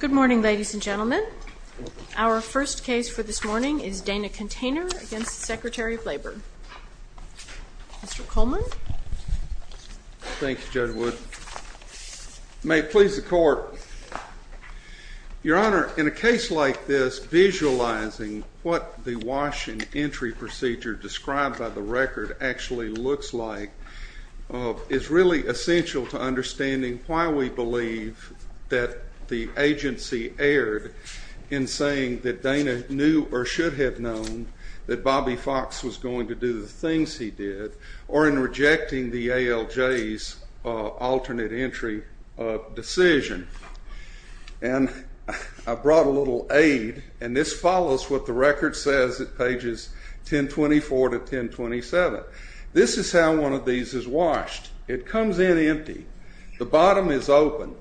Good morning, ladies and gentlemen. Our first case for this morning is Dana Container v. Secretary of Labor. Mr. Coleman. Thank you, Judge Wood. May it please the Court, Your Honor, in a case like this, visualizing what the wash and entry procedure described by the record actually looks like is really essential to understanding why we believe that the agency erred in saying that Dana knew or should have known that Bobby Fox was going to do the things he did or in rejecting the ALJ's alternate entry decision. And I brought a little aid, and this follows what the record says at pages 1024 to 1027. This is how one of these is washed. It comes in empty. The bottom is open.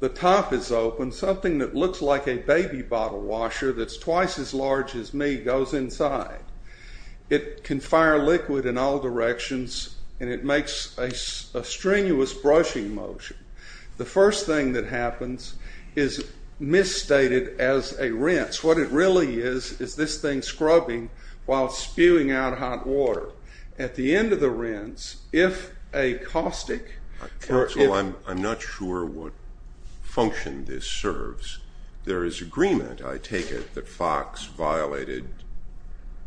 The top is open. Something that looks like a baby bottle washer that's twice as large as me goes inside. It can fire liquid in all directions, and it makes a strenuous brushing motion. The first thing that happens is misstated as a rinse. What it really is is this thing scrubbing while spewing out hot water. At the end of the rinse, if a caustic… Counsel, I'm not sure what function this serves. There is agreement, I take it, that Fox violated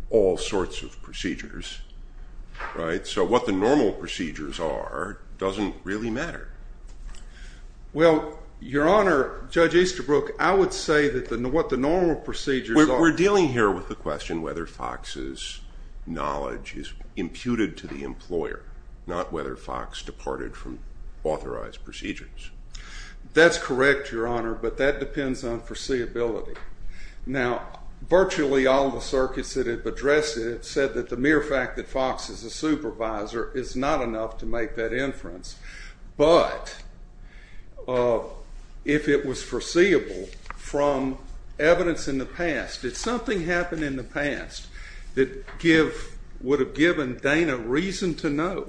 all sorts of procedures, right? So what the normal procedures are doesn't really matter. Well, Your Honor, Judge Easterbrook, I would say that what the normal procedures are… We're dealing here with the question whether Fox's knowledge is imputed to the employer, not whether Fox departed from authorized procedures. That's correct, Your Honor, but that depends on foreseeability. Now, virtually all the circuits that have addressed it have said that the mere fact that Fox is a supervisor is not enough to make that inference. But if it was foreseeable from evidence in the past, if something happened in the past that would have given Dana reason to know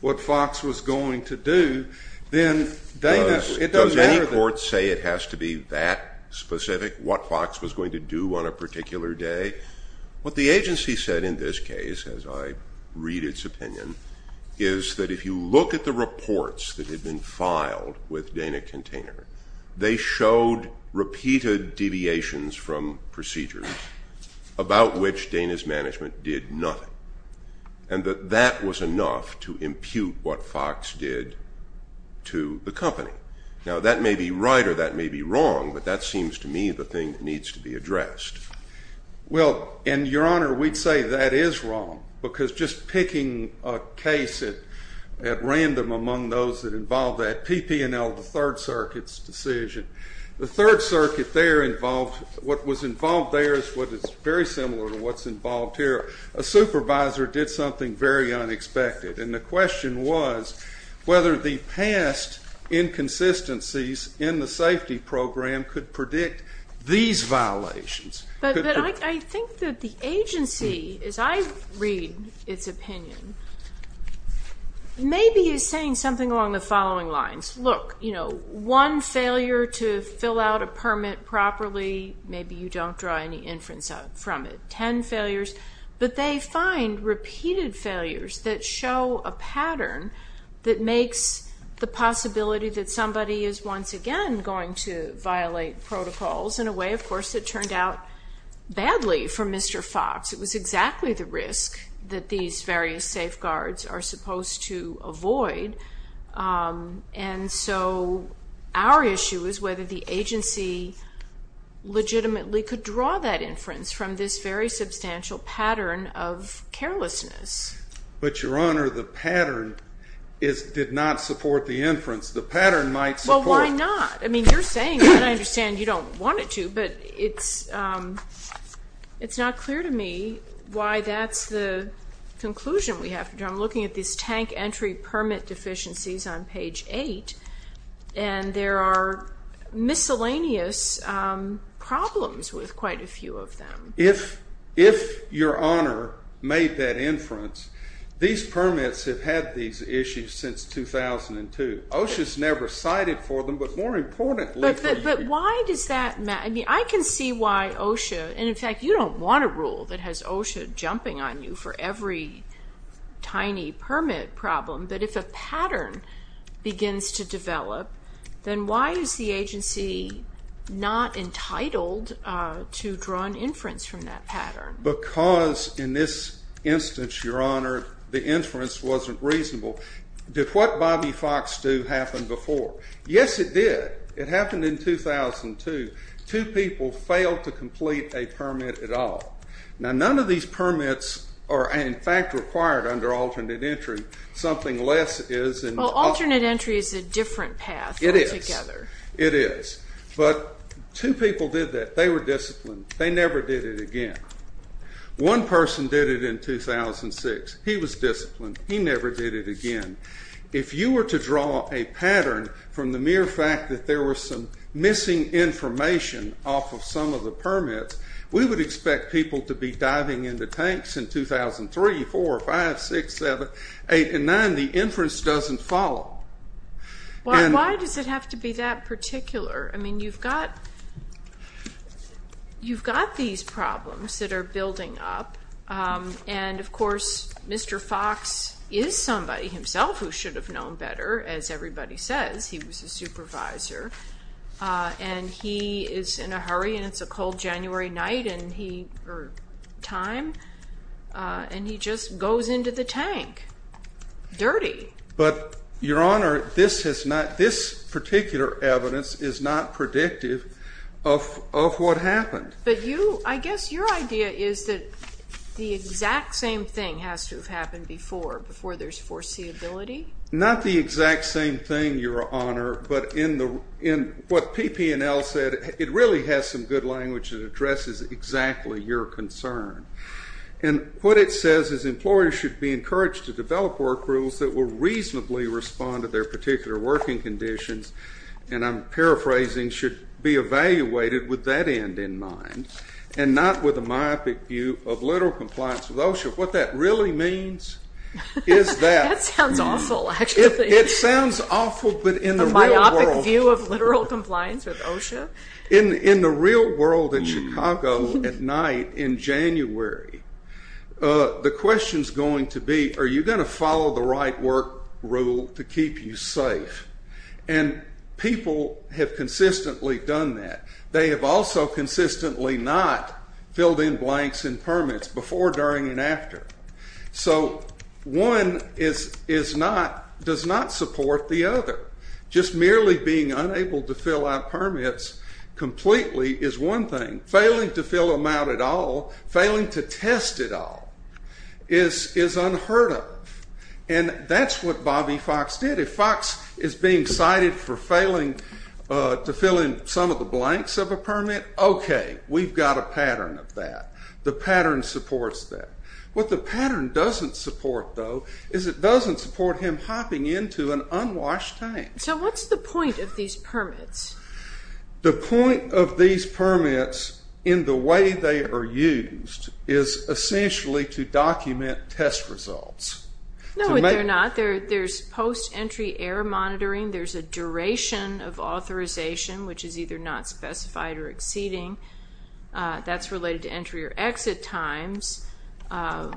what Fox was going to do, then Dana… Does any court say it has to be that specific what Fox was going to do on a particular day? What the agency said in this case, as I read its opinion, is that if you look at the reports that had been filed with Dana Container, they showed repeated deviations from procedures about which Dana's management did nothing, and that that was enough to impute what Fox did to the company. Now, that may be right or that may be wrong, but that seems to me the thing that needs to be addressed. Well, and Your Honor, we'd say that is wrong, because just picking a case at random among those that involved that, PPNL, the Third Circuit's decision, the Third Circuit there involved… What was involved there is what is very similar to what's involved here. A supervisor did something very unexpected, and the question was whether the past inconsistencies in the safety program could predict these violations. But I think that the agency, as I read its opinion, maybe is saying something along the following lines. Look, you know, one failure to fill out a permit properly, maybe you don't draw any inference from it. Ten failures, but they find repeated failures that show a pattern that makes the possibility that somebody is once again going to violate protocols in a way, of course, that turned out badly for Mr. Fox. It was exactly the risk that these various safeguards are supposed to avoid. And so our issue is whether the agency legitimately could draw that inference from this very substantial pattern of carelessness. But, Your Honor, the pattern did not support the inference. The pattern might support… Well, why not? I mean, you're saying that. I understand you don't want it to, but it's not clear to me why that's the conclusion we have to draw. I'm looking at these tank entry permit deficiencies on page 8, and there are miscellaneous problems with quite a few of them. If Your Honor made that inference, these permits have had these issues since 2002. OSHA's never cited for them, but more importantly for you. But why does that matter? I mean, I can see why OSHA, and in fact you don't want a rule that has OSHA jumping on you for every tiny permit problem, but if a pattern begins to develop, then why is the agency not entitled to draw an inference from that pattern? Because, in this instance, Your Honor, the inference wasn't reasonable. Did what Bobby Fox do happen before? Yes, it did. It happened in 2002. Two people failed to complete a permit at all. Now, none of these permits are, in fact, required under alternate entry. Something less is in… Well, alternate entry is a different path altogether. It is. It is. But two people did that. They were disciplined. They never did it again. One person did it in 2006. He was disciplined. He never did it again. If you were to draw a pattern from the mere fact that there was some missing information off of some of the permits, we would expect people to be diving into tanks in 2003, 4, 5, 6, 7, 8, and 9. The inference doesn't follow. Why does it have to be that particular? I mean, you've got these problems that are building up, and, of course, Mr. Fox is somebody himself who should have known better. As everybody says, he was a supervisor, and he is in a hurry, and it's a cold January night or time, and he just goes into the tank dirty. But, Your Honor, this particular evidence is not predictive of what happened. But I guess your idea is that the exact same thing has to have happened before, before there's foreseeability. Not the exact same thing, Your Honor, but in what PP&L said, it really has some good language that addresses exactly your concern. And what it says is, employers should be encouraged to develop work rules that will reasonably respond to their particular working conditions. And I'm paraphrasing, should be evaluated with that end in mind and not with a myopic view of literal compliance with OSHA. What that really means is that. That sounds awful, actually. It sounds awful, but in the real world. A myopic view of literal compliance with OSHA? In the real world, in Chicago, at night in January, the question's going to be, are you going to follow the right work rule to keep you safe? And people have consistently done that. They have also consistently not filled in blanks and permits before, during, and after. So one does not support the other. Just merely being unable to fill out permits completely is one thing. Failing to fill them out at all, failing to test it all, is unheard of. And that's what Bobby Fox did. If Fox is being cited for failing to fill in some of the blanks of a permit, okay, we've got a pattern of that. The pattern supports that. What the pattern doesn't support, though, is it doesn't support him hopping into an unwashed tank. So what's the point of these permits? The point of these permits in the way they are used is essentially to document test results. No, they're not. There's post-entry error monitoring. There's a duration of authorization, which is either not specified or exceeding. That's related to entry or exit times.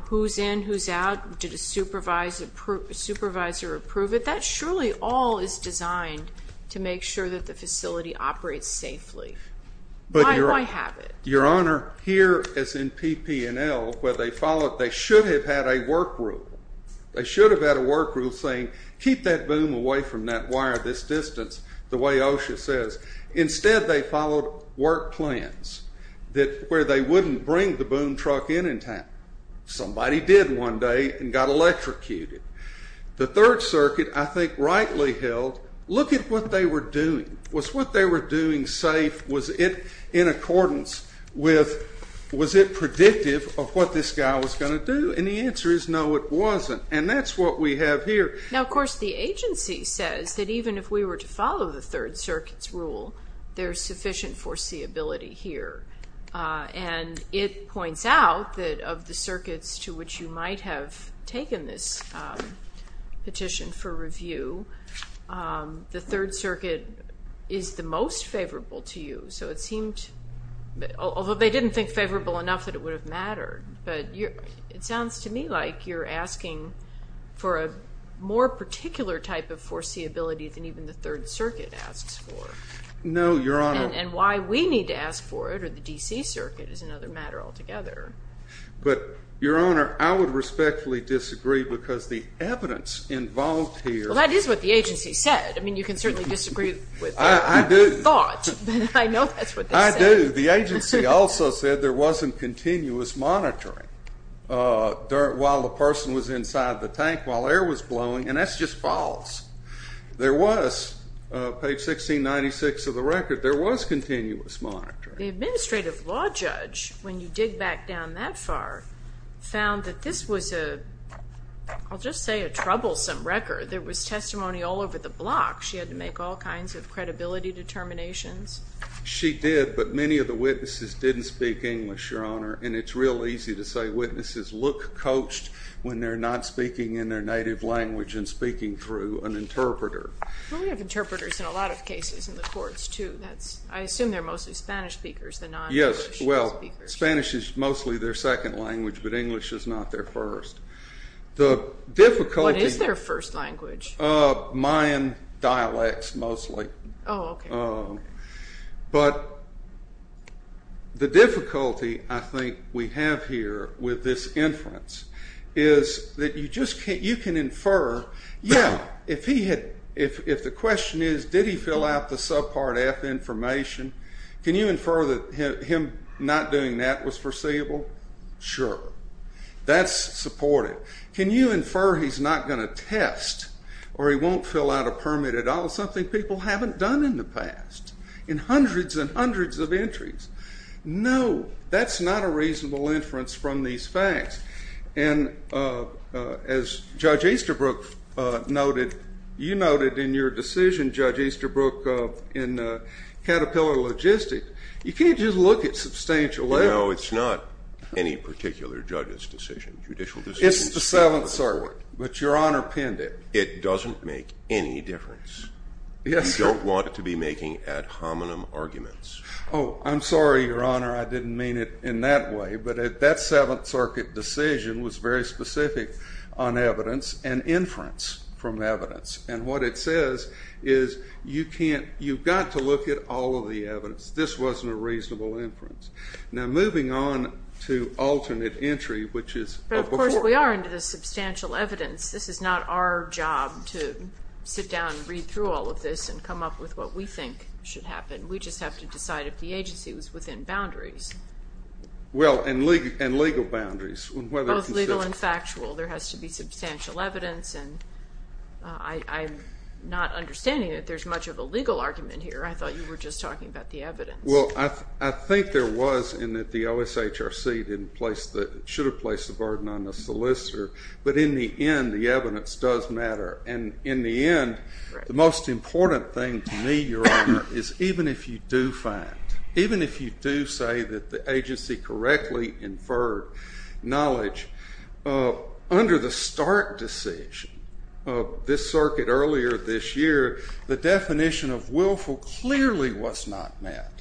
Who's in? Who's out? Did a supervisor approve it? That surely all is designed to make sure that the facility operates safely. My habit. Your Honor, here, as in PP&L, where they followed, they should have had a work rule. They should have had a work rule saying keep that boom away from that wire this distance, the way OSHA says. Instead, they followed work plans where they wouldn't bring the boom truck in in time. Somebody did one day and got electrocuted. The Third Circuit, I think, rightly held, look at what they were doing. Was what they were doing safe? Was it in accordance with, was it predictive of what this guy was going to do? And the answer is no, it wasn't. And that's what we have here. Now, of course, the agency says that even if we were to follow the Third Circuit's rule, there's sufficient foreseeability here. And it points out that of the circuits to which you might have taken this petition for review, the Third Circuit is the most favorable to you. So it seemed, although they didn't think favorable enough that it would have mattered, but it sounds to me like you're asking for a more particular type of foreseeability than even the Third Circuit asks for. No, Your Honor. And why we need to ask for it or the D.C. Circuit is another matter altogether. But, Your Honor, I would respectfully disagree because the evidence involved here. Well, that is what the agency said. I mean, you can certainly disagree with their thought. I do. I know that's what they said. I do. The agency also said there wasn't continuous monitoring while the person was inside the tank, while air was blowing, and that's just false. There was, page 1696 of the record, there was continuous monitoring. The administrative law judge, when you dig back down that far, found that this was a, I'll just say, a troublesome record. There was testimony all over the block. She had to make all kinds of credibility determinations. She did, but many of the witnesses didn't speak English, Your Honor, and it's real easy to say witnesses look coached when they're not speaking in their native language and speaking through an interpreter. Well, we have interpreters in a lot of cases in the courts, too. I assume they're mostly Spanish speakers, the non-English speakers. Yes, well, Spanish is mostly their second language, but English is not their first. What is their first language? Mayan dialects, mostly. Oh, okay. But the difficulty I think we have here with this inference is that you just can't, you can infer, yeah, if he had, if the question is did he fill out the subpart F information, can you infer that him not doing that was foreseeable? Sure. That's supported. Can you infer he's not going to test or he won't fill out a permit at all, something people haven't done in the past, in hundreds and hundreds of entries? No, that's not a reasonable inference from these facts. And as Judge Easterbrook noted, you noted in your decision, Judge Easterbrook, in Caterpillar Logistics, you can't just look at substantial evidence. No, it's not any particular judge's decision, judicial decision. It's the Seventh Circuit, but Your Honor pinned it. It doesn't make any difference. You don't want it to be making ad hominem arguments. Oh, I'm sorry, Your Honor, I didn't mean it in that way, but that Seventh Circuit decision was very specific on evidence and inference from evidence, and what it says is you can't, you've got to look at all of the evidence. This wasn't a reasonable inference. Now, moving on to alternate entry, which is a before. But, of course, we are into the substantial evidence. This is not our job to sit down and read through all of this and come up with what we think should happen. We just have to decide if the agency was within boundaries. Well, and legal boundaries. Both legal and factual. There has to be substantial evidence, and I'm not understanding that there's much of a legal argument here. I thought you were just talking about the evidence. Well, I think there was in that the OSHRC didn't place the, should have placed the burden on the solicitor, but in the end, the evidence does matter, and in the end, the most important thing to me, Your Honor, is even if you do find, even if you do say that the agency correctly inferred knowledge, under the Stark decision of this circuit earlier this year, the definition of willful clearly was not met.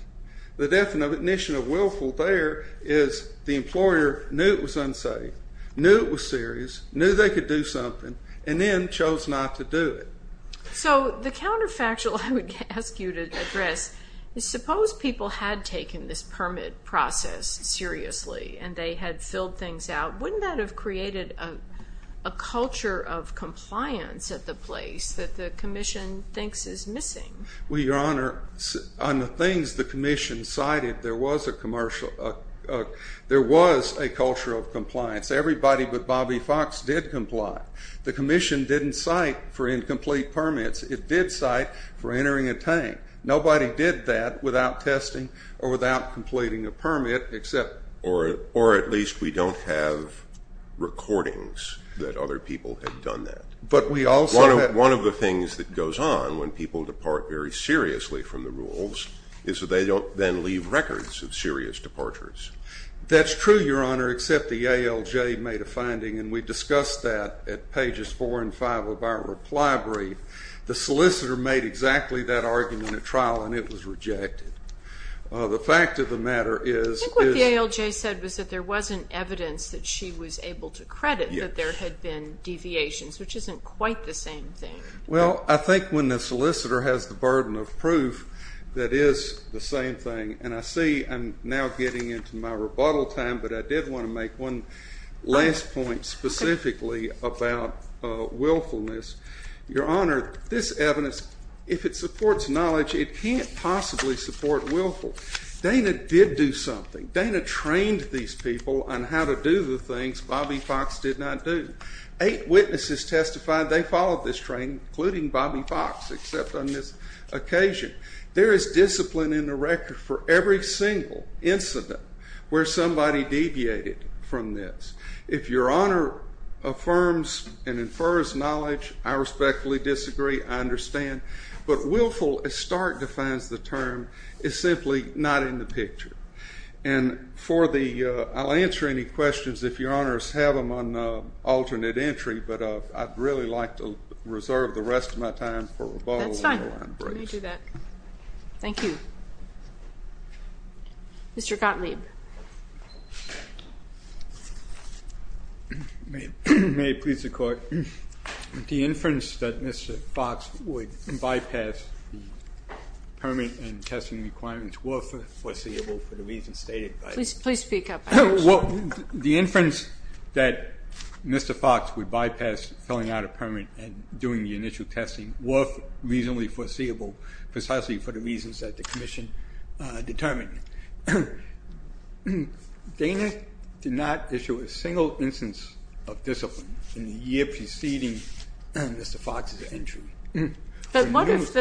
The definition of willful there is the employer knew it was unsafe, knew it was serious, knew they could do something, and then chose not to do it. So the counterfactual I would ask you to address is suppose people had taken this permit process seriously and they had filled things out. Wouldn't that have created a culture of compliance at the place that the commission thinks is missing? Well, Your Honor, on the things the commission cited, there was a commercial, there was a culture of compliance. Everybody but Bobby Fox did comply. The commission didn't cite for incomplete permits. It did cite for entering a tank. Nobody did that without testing or without completing a permit except. Or at least we don't have recordings that other people had done that. But we also have. One of the things that goes on when people depart very seriously from the rules is that they don't then leave records of serious departures. That's true, Your Honor, except the ALJ made a finding, and we discussed that at pages 4 and 5 of our reply brief. The solicitor made exactly that argument at trial, and it was rejected. The fact of the matter is... I think what the ALJ said was that there wasn't evidence that she was able to credit that there had been deviations, which isn't quite the same thing. Well, I think when the solicitor has the burden of proof, that is the same thing. And I see I'm now getting into my rebuttal time, but I did want to make one last point specifically about willfulness. Your Honor, this evidence, if it supports knowledge, it can't possibly support willful. Dana did do something. Dana trained these people on how to do the things Bobby Fox did not do. Eight witnesses testified they followed this training, including Bobby Fox, except on this occasion. There is discipline in the record for every single incident where somebody deviated from this. If Your Honor affirms and infers knowledge, I respectfully disagree. I understand. But willful, as Stark defines the term, is simply not in the picture. And I'll answer any questions, if Your Honors have them, on alternate entry, but I'd really like to reserve the rest of my time for rebuttal. That's fine. Let me do that. Thank you. Mr. Gottlieb. May it please the Court? The inference that Mr. Fox would bypass the permit and testing requirements were foreseeable for the reasons stated by you. Please speak up. Well, the inference that Mr. Fox would bypass filling out a permit and doing the initial testing were reasonably foreseeable, precisely for the reasons that the Commission determined. Dana did not issue a single instance of discipline in the year preceding Mr. Fox's entry. But what if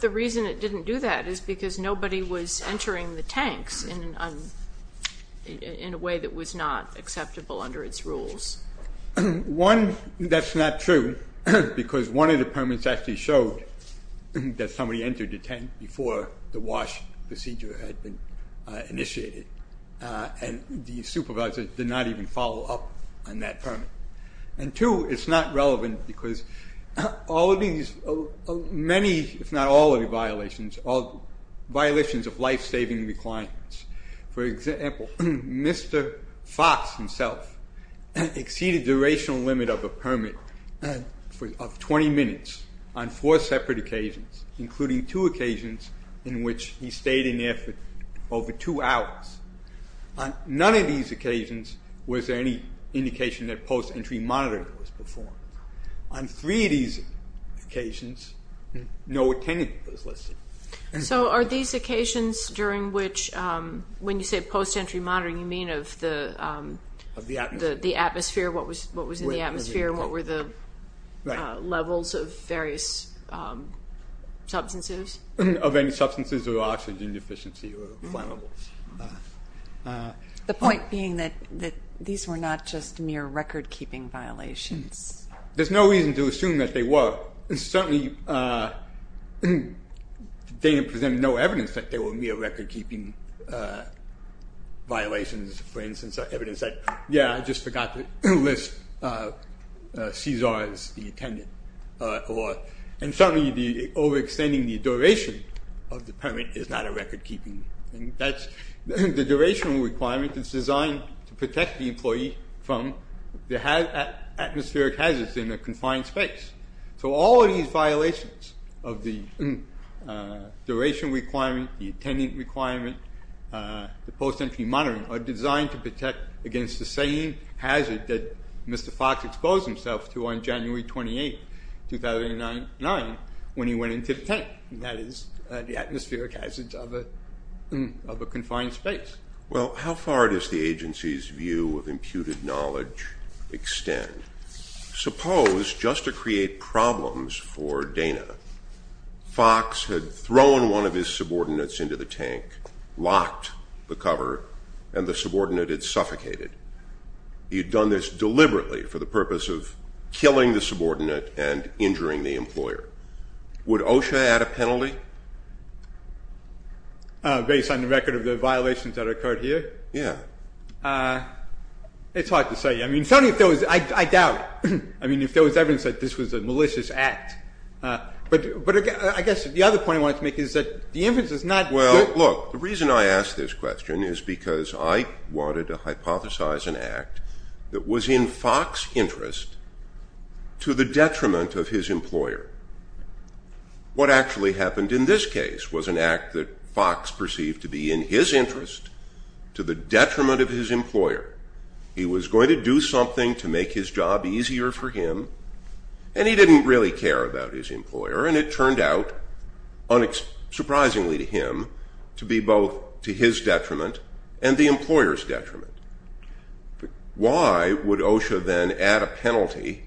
the reason it didn't do that is because nobody was entering the tanks in a way that was not acceptable under its rules? One, that's not true, because one of the permits actually showed that somebody entered the tank before the wash procedure had been initiated, and the supervisor did not even follow up on that permit. And two, it's not relevant because all of these many, if not all of the violations, all violations of life-saving requirements. For example, Mr. Fox himself exceeded the durational limit of a permit of 20 minutes on four separate occasions, including two occasions in which he stayed in there for over two hours. On none of these occasions was there any indication that post-entry monitoring was performed. On three of these occasions, no attendance was listed. So are these occasions during which, when you say post-entry monitoring, you mean of the atmosphere, what was in the atmosphere, what were the levels of various substances? Of any substances of oxygen deficiency or flammables. The point being that these were not just mere record-keeping violations. There's no reason to assume that they were. Certainly, the data presented no evidence that they were mere record-keeping violations. For instance, evidence that, yeah, I just forgot to list Caesar as the attendant. And certainly, overextending the duration of the permit is not a record-keeping thing. The duration requirement is designed to protect the employee from the atmospheric hazards in a confined space. So all of these violations of the duration requirement, the attendant requirement, the post-entry monitoring, are designed to protect against the same hazard that Mr. Fox exposed himself to on January 28, 2009, when he went into the tank, and that is the atmospheric hazards of a confined space. Well, how far does the agency's view of imputed knowledge extend? Suppose, just to create problems for Dana, Fox had thrown one of his subordinates into the tank, locked the cover, and the subordinate had suffocated. He had done this deliberately for the purpose of killing the subordinate and injuring the employer. Would OSHA add a penalty? Based on the record of the violations that occurred here? Yeah. It's hard to say. I mean, certainly if there was, I doubt it. I mean, if there was evidence that this was a malicious act. But I guess the other point I wanted to make is that the evidence is not good. Look, the reason I ask this question is because I wanted to hypothesize an act that was in Fox's interest to the detriment of his employer. What actually happened in this case was an act that Fox perceived to be in his interest to the detriment of his employer. He was going to do something to make his job easier for him, and he didn't really care about his employer, and it turned out, surprisingly to him, to be both to his detriment and the employer's detriment. Why would OSHA then add a penalty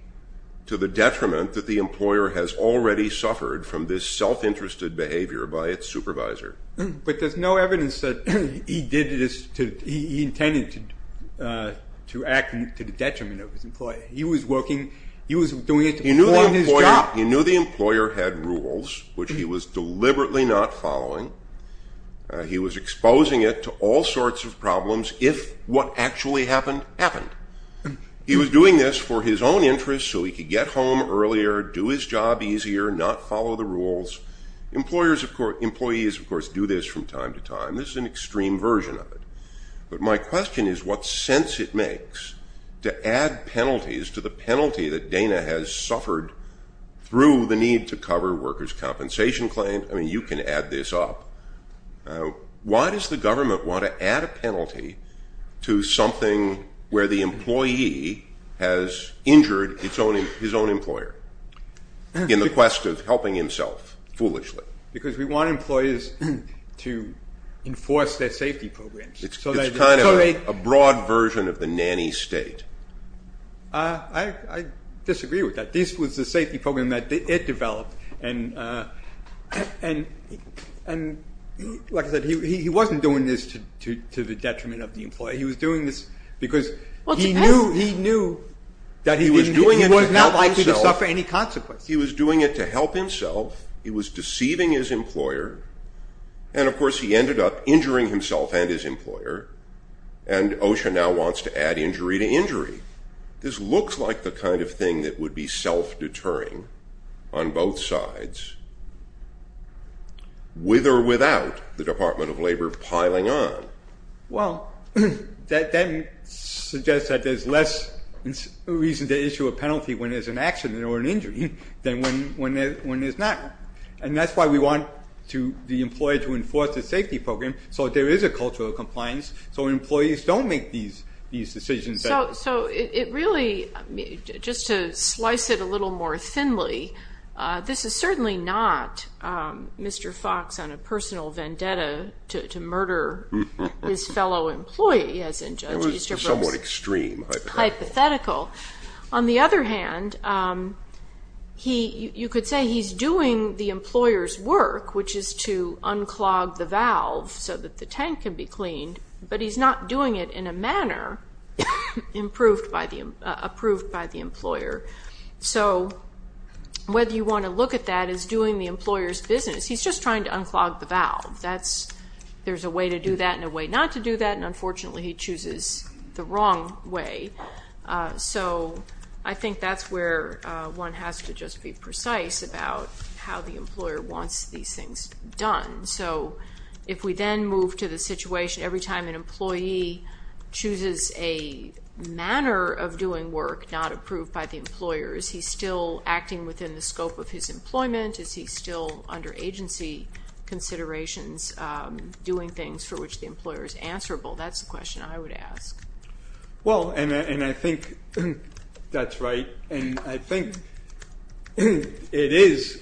to the detriment that the employer has already suffered from this self-interested behavior by its supervisor? But there's no evidence that he intended to act to the detriment of his employer. He was working, he was doing it for his job. He knew the employer had rules, which he was deliberately not following. He was exposing it to all sorts of problems if what actually happened happened. He was doing this for his own interest so he could get home earlier, do his job easier, not follow the rules. Employees, of course, do this from time to time. This is an extreme version of it. But my question is what sense it makes to add penalties to the penalty that Dana has suffered through the need to cover workers' compensation claims. I mean, you can add this up. Why does the government want to add a penalty to something where the employee has injured his own employer in the quest of helping himself foolishly? Because we want employers to enforce their safety programs. It's kind of a broad version of the nanny state. I disagree with that. This was the safety program that it developed. And like I said, he wasn't doing this to the detriment of the employer. He was doing this because he knew that he was not likely to suffer any consequences. He was doing it to help himself. He was deceiving his employer. And, of course, he ended up injuring himself and his employer. And OSHA now wants to add injury to injury. This looks like the kind of thing that would be self-deterring on both sides, with or without the Department of Labor piling on. Well, that suggests that there's less reason to issue a penalty when there's an accident or an injury than when there's not. And that's why we want the employer to enforce the safety program so there is a cultural compliance so employees don't make these decisions. So it really, just to slice it a little more thinly, this is certainly not Mr. Fox on a personal vendetta to murder his fellow employee, as in Judge Easterbrook's hypothetical. On the other hand, you could say he's doing the employer's work, which is to unclog the valve so that the tank can be cleaned, but he's not doing it in a manner approved by the employer. So whether you want to look at that as doing the employer's business, he's just trying to unclog the valve. There's a way to do that and a way not to do that, and unfortunately he chooses the wrong way. So I think that's where one has to just be precise about how the employer wants these things done. So if we then move to the situation every time an employee chooses a manner of doing work not approved by the employer, is he still acting within the scope of his employment? Is he still under agency considerations doing things for which the employer is answerable? That's the question I would ask. Well, and I think that's right, and I think it is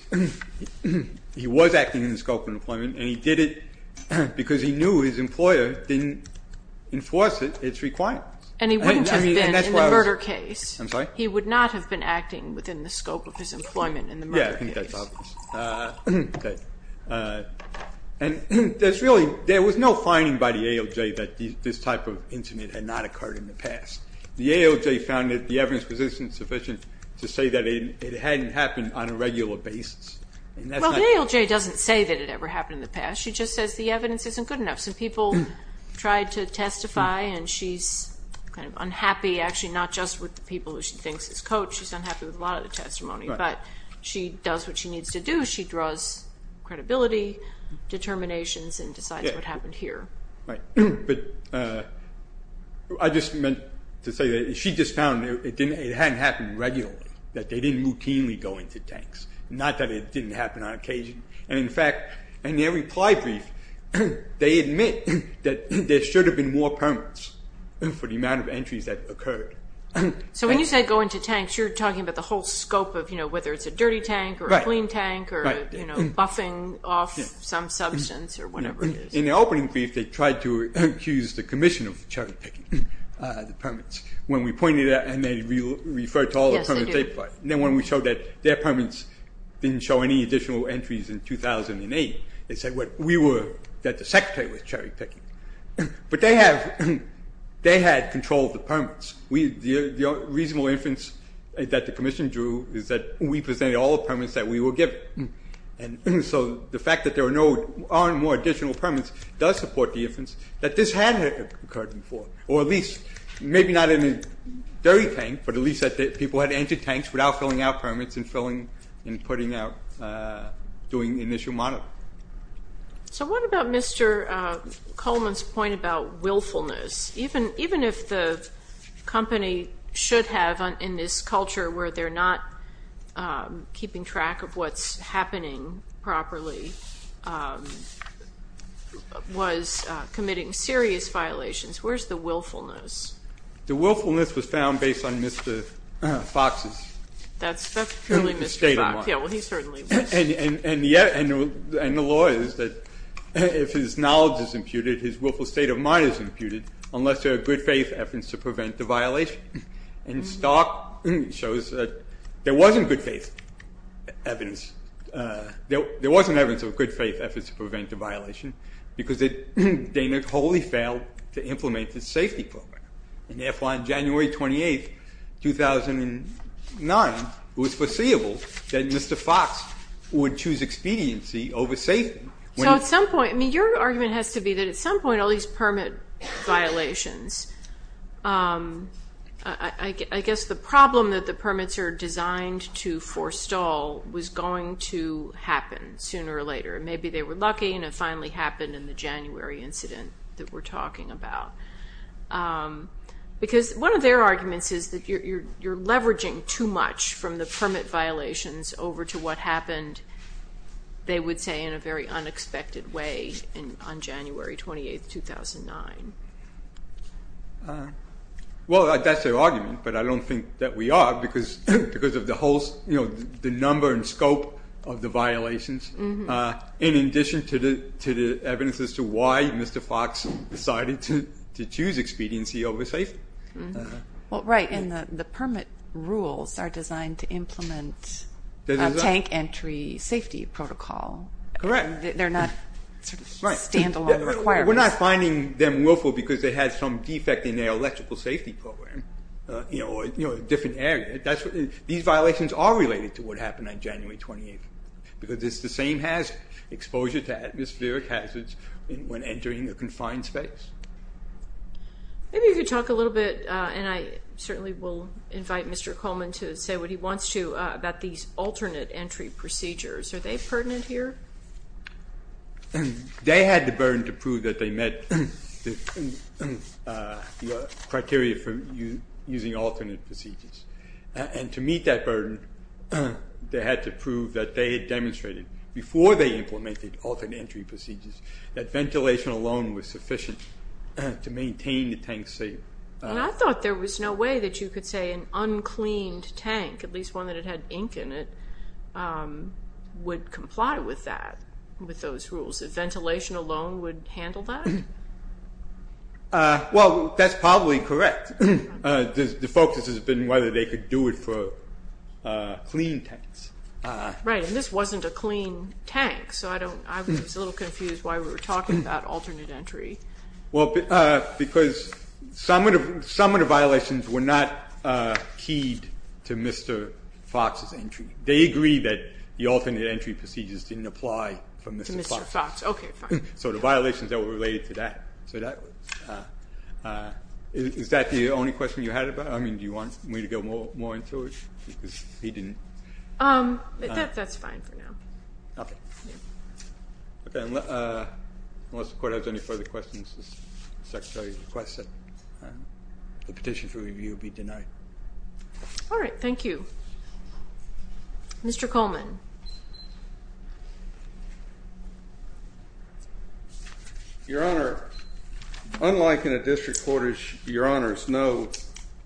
he was acting in the scope of employment, and he did it because he knew his employer didn't enforce its requirements. And he wouldn't have been in the murder case. I'm sorry? Yeah, I think that's obvious. And there was no finding by the ALJ that this type of incident had not occurred in the past. The ALJ found that the evidence was insufficient to say that it hadn't happened on a regular basis. Well, the ALJ doesn't say that it ever happened in the past. She just says the evidence isn't good enough. Some people tried to testify, and she's kind of unhappy, actually, not just with the people who she thinks is coached. She's unhappy with a lot of the testimony, but she does what she needs to do. She draws credibility, determinations, and decides what happened here. Right, but I just meant to say that she just found it hadn't happened regularly, that they didn't routinely go into tanks, not that it didn't happen on occasion. And, in fact, in their reply brief, they admit that there should have been more permits for the amount of entries that occurred. So when you say go into tanks, you're talking about the whole scope of, you know, whether it's a dirty tank or a clean tank or, you know, buffing off some substance or whatever it is. In the opening brief, they tried to accuse the Commission of cherry-picking the permits. When we pointed it out, and they referred to all the permits they applied. Yes, they did. Then when we showed that their permits didn't show any additional entries in 2008, they said that the Secretary was cherry-picking. But they had control of the permits. The reasonable inference that the Commission drew is that we presented all the permits that we were given. And so the fact that there are no additional permits does support the inference that this had occurred before, or at least maybe not in a dirty tank, but at least that people had entered tanks without filling out permits and filling and putting out, doing initial monitoring. So what about Mr. Coleman's point about willfulness? Even if the company should have, in this culture where they're not keeping track of what's happening properly, was committing serious violations, where's the willfulness? The willfulness was found based on Mr. Fox's state of mind. That's really Mr. Fox. Yeah, well, he certainly was. And the law is that if his knowledge is imputed, his willful state of mind is imputed, unless there are good-faith efforts to prevent the violation. And Stark shows that there wasn't good-faith evidence. There wasn't evidence of good-faith efforts to prevent the violation because Dana wholly failed to implement the safety program. And therefore, on January 28, 2009, it was foreseeable that Mr. Fox would choose expediency over safety. So at some point, I mean, your argument has to be that at some point all these permit violations, I guess the problem that the permits are designed to forestall was going to happen sooner or later. Maybe they were lucky and it finally happened in the January incident that we're talking about. Because one of their arguments is that you're leveraging too much from the permit violations over to what happened, they would say, in a very unexpected way on January 28, 2009. Well, that's their argument, but I don't think that we are, because of the number and scope of the violations, in addition to the evidence as to why Mr. Fox decided to choose expediency over safety. Well, right, and the permit rules are designed to implement tank entry safety protocol. Correct. They're not sort of stand-alone requirements. We're not finding them willful because they had some defect in their electrical safety program, or a different area. These violations are related to what happened on January 28, because it's the same exposure to atmospheric hazards when entering a confined space. Maybe we could talk a little bit, and I certainly will invite Mr. Coleman to say what he wants to, about these alternate entry procedures. Are they pertinent here? They had the burden to prove that they met the criteria for using alternate procedures, and to meet that burden, they had to prove that they had demonstrated, before they implemented alternate entry procedures, that ventilation alone was sufficient to maintain the tank safe. And I thought there was no way that you could say an uncleaned tank, at least one that had ink in it, would comply with that, with those rules. If ventilation alone would handle that? Well, that's probably correct. The focus has been whether they could do it for clean tanks. Right, and this wasn't a clean tank, so I was a little confused why we were talking about alternate entry. Well, because some of the violations were not keyed to Mr. Fox's entry. They agreed that the alternate entry procedures didn't apply to Mr. Fox. To Mr. Fox, okay, fine. So the violations that were related to that. Is that the only question you had about it? I mean, do you want me to go more into it? That's fine for now. Okay. Okay, unless the Court has any further questions, the Secretary requests that the petition for review be denied. All right, thank you. Mr. Coleman. Your Honor, unlike in a district court, your Honors know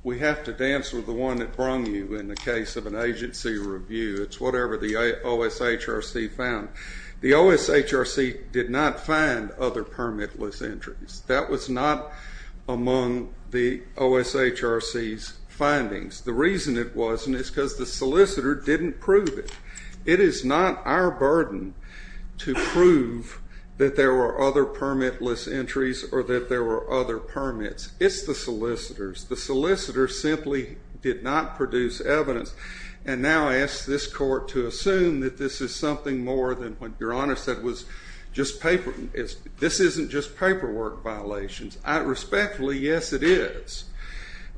we have to dance with the one that brung you in the case of an agency review. It's whatever the OSHRC found. The OSHRC did not find other permitless entries. That was not among the OSHRC's findings. The reason it wasn't is because the solicitor didn't prove it. It is not our burden to prove that there were other permitless entries or that there were other permits. It's the solicitor's. The solicitor simply did not produce evidence and now asks this Court to assume that this is something more than what your Honor said was just paperwork. This isn't just paperwork violations. Respectfully, yes, it is.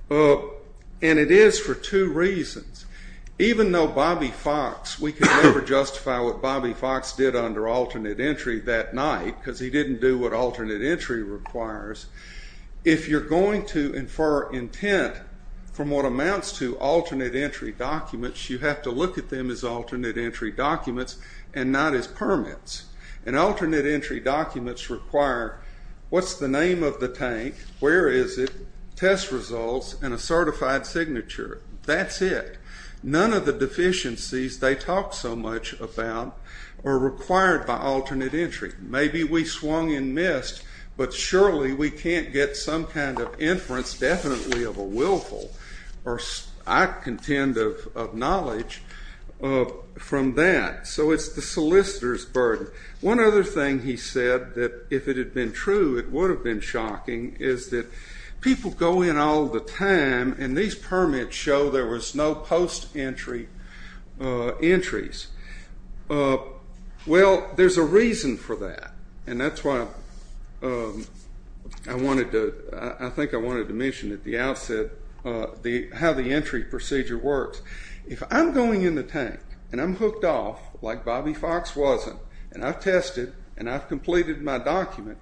And it is for two reasons. Even though Bobby Fox, we can never justify what Bobby Fox did under alternate entry that night because he didn't do what alternate entry requires, if you're going to infer intent from what amounts to alternate entry documents, you have to look at them as alternate entry documents and not as permits. And alternate entry documents require what's the name of the tank, where is it, test results, and a certified signature. That's it. None of the deficiencies they talk so much about are required by alternate entry. Maybe we swung and missed, but surely we can't get some kind of inference definitely of a willful or I contend of knowledge from that. So it's the solicitor's burden. One other thing he said that if it had been true, it would have been shocking, is that people go in all the time and these permits show there was no post-entry entries. Well, there's a reason for that, and that's why I think I wanted to mention at the outset how the entry procedure works. If I'm going in the tank and I'm hooked off, like Bobby Fox wasn't, and I've tested and I've completed my document,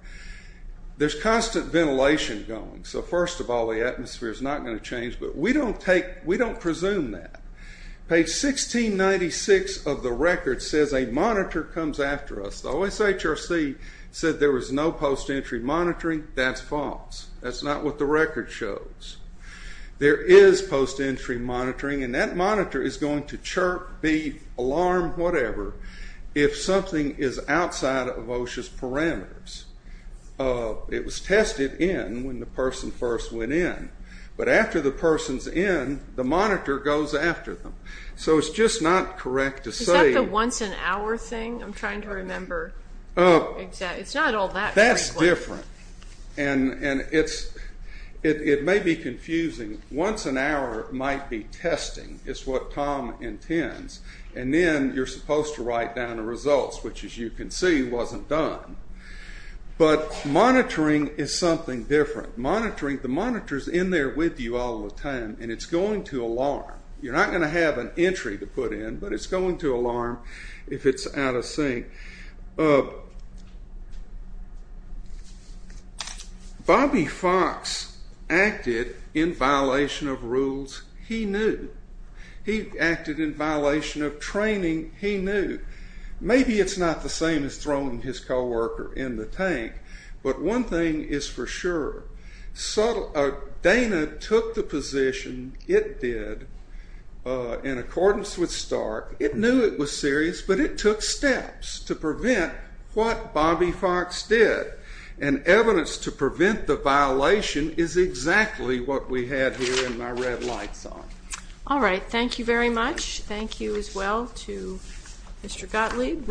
there's constant ventilation going. So first of all, the atmosphere is not going to change, but we don't presume that. Page 1696 of the record says a monitor comes after us. The OSHRC said there was no post-entry monitoring. That's false. That's not what the record shows. There is post-entry monitoring, and that monitor is going to chirp, beep, alarm, whatever, if something is outside of OSHA's parameters. It was tested in when the person first went in, but after the person's in, the monitor goes after them. So it's just not correct to say... Is that the once-an-hour thing? I'm trying to remember. It's not all that frequent. That's different, and it may be confusing. Once-an-hour might be testing is what Tom intends, and then you're supposed to write down the results, which, as you can see, wasn't done. But monitoring is something different. The monitor is in there with you all the time, and it's going to alarm. You're not going to have an entry to put in, but it's going to alarm if it's out of sync. Bobby Fox acted in violation of rules he knew. He acted in violation of training he knew. Maybe it's not the same as throwing his co-worker in the tank, but one thing is for sure. Dana took the position it did in accordance with Stark. It knew it was serious, but it took steps to prevent what Bobby Fox did, and evidence to prevent the violation is exactly what we had here in my red light zone. All right, thank you very much. Thank you as well to Mr. Gottlieb.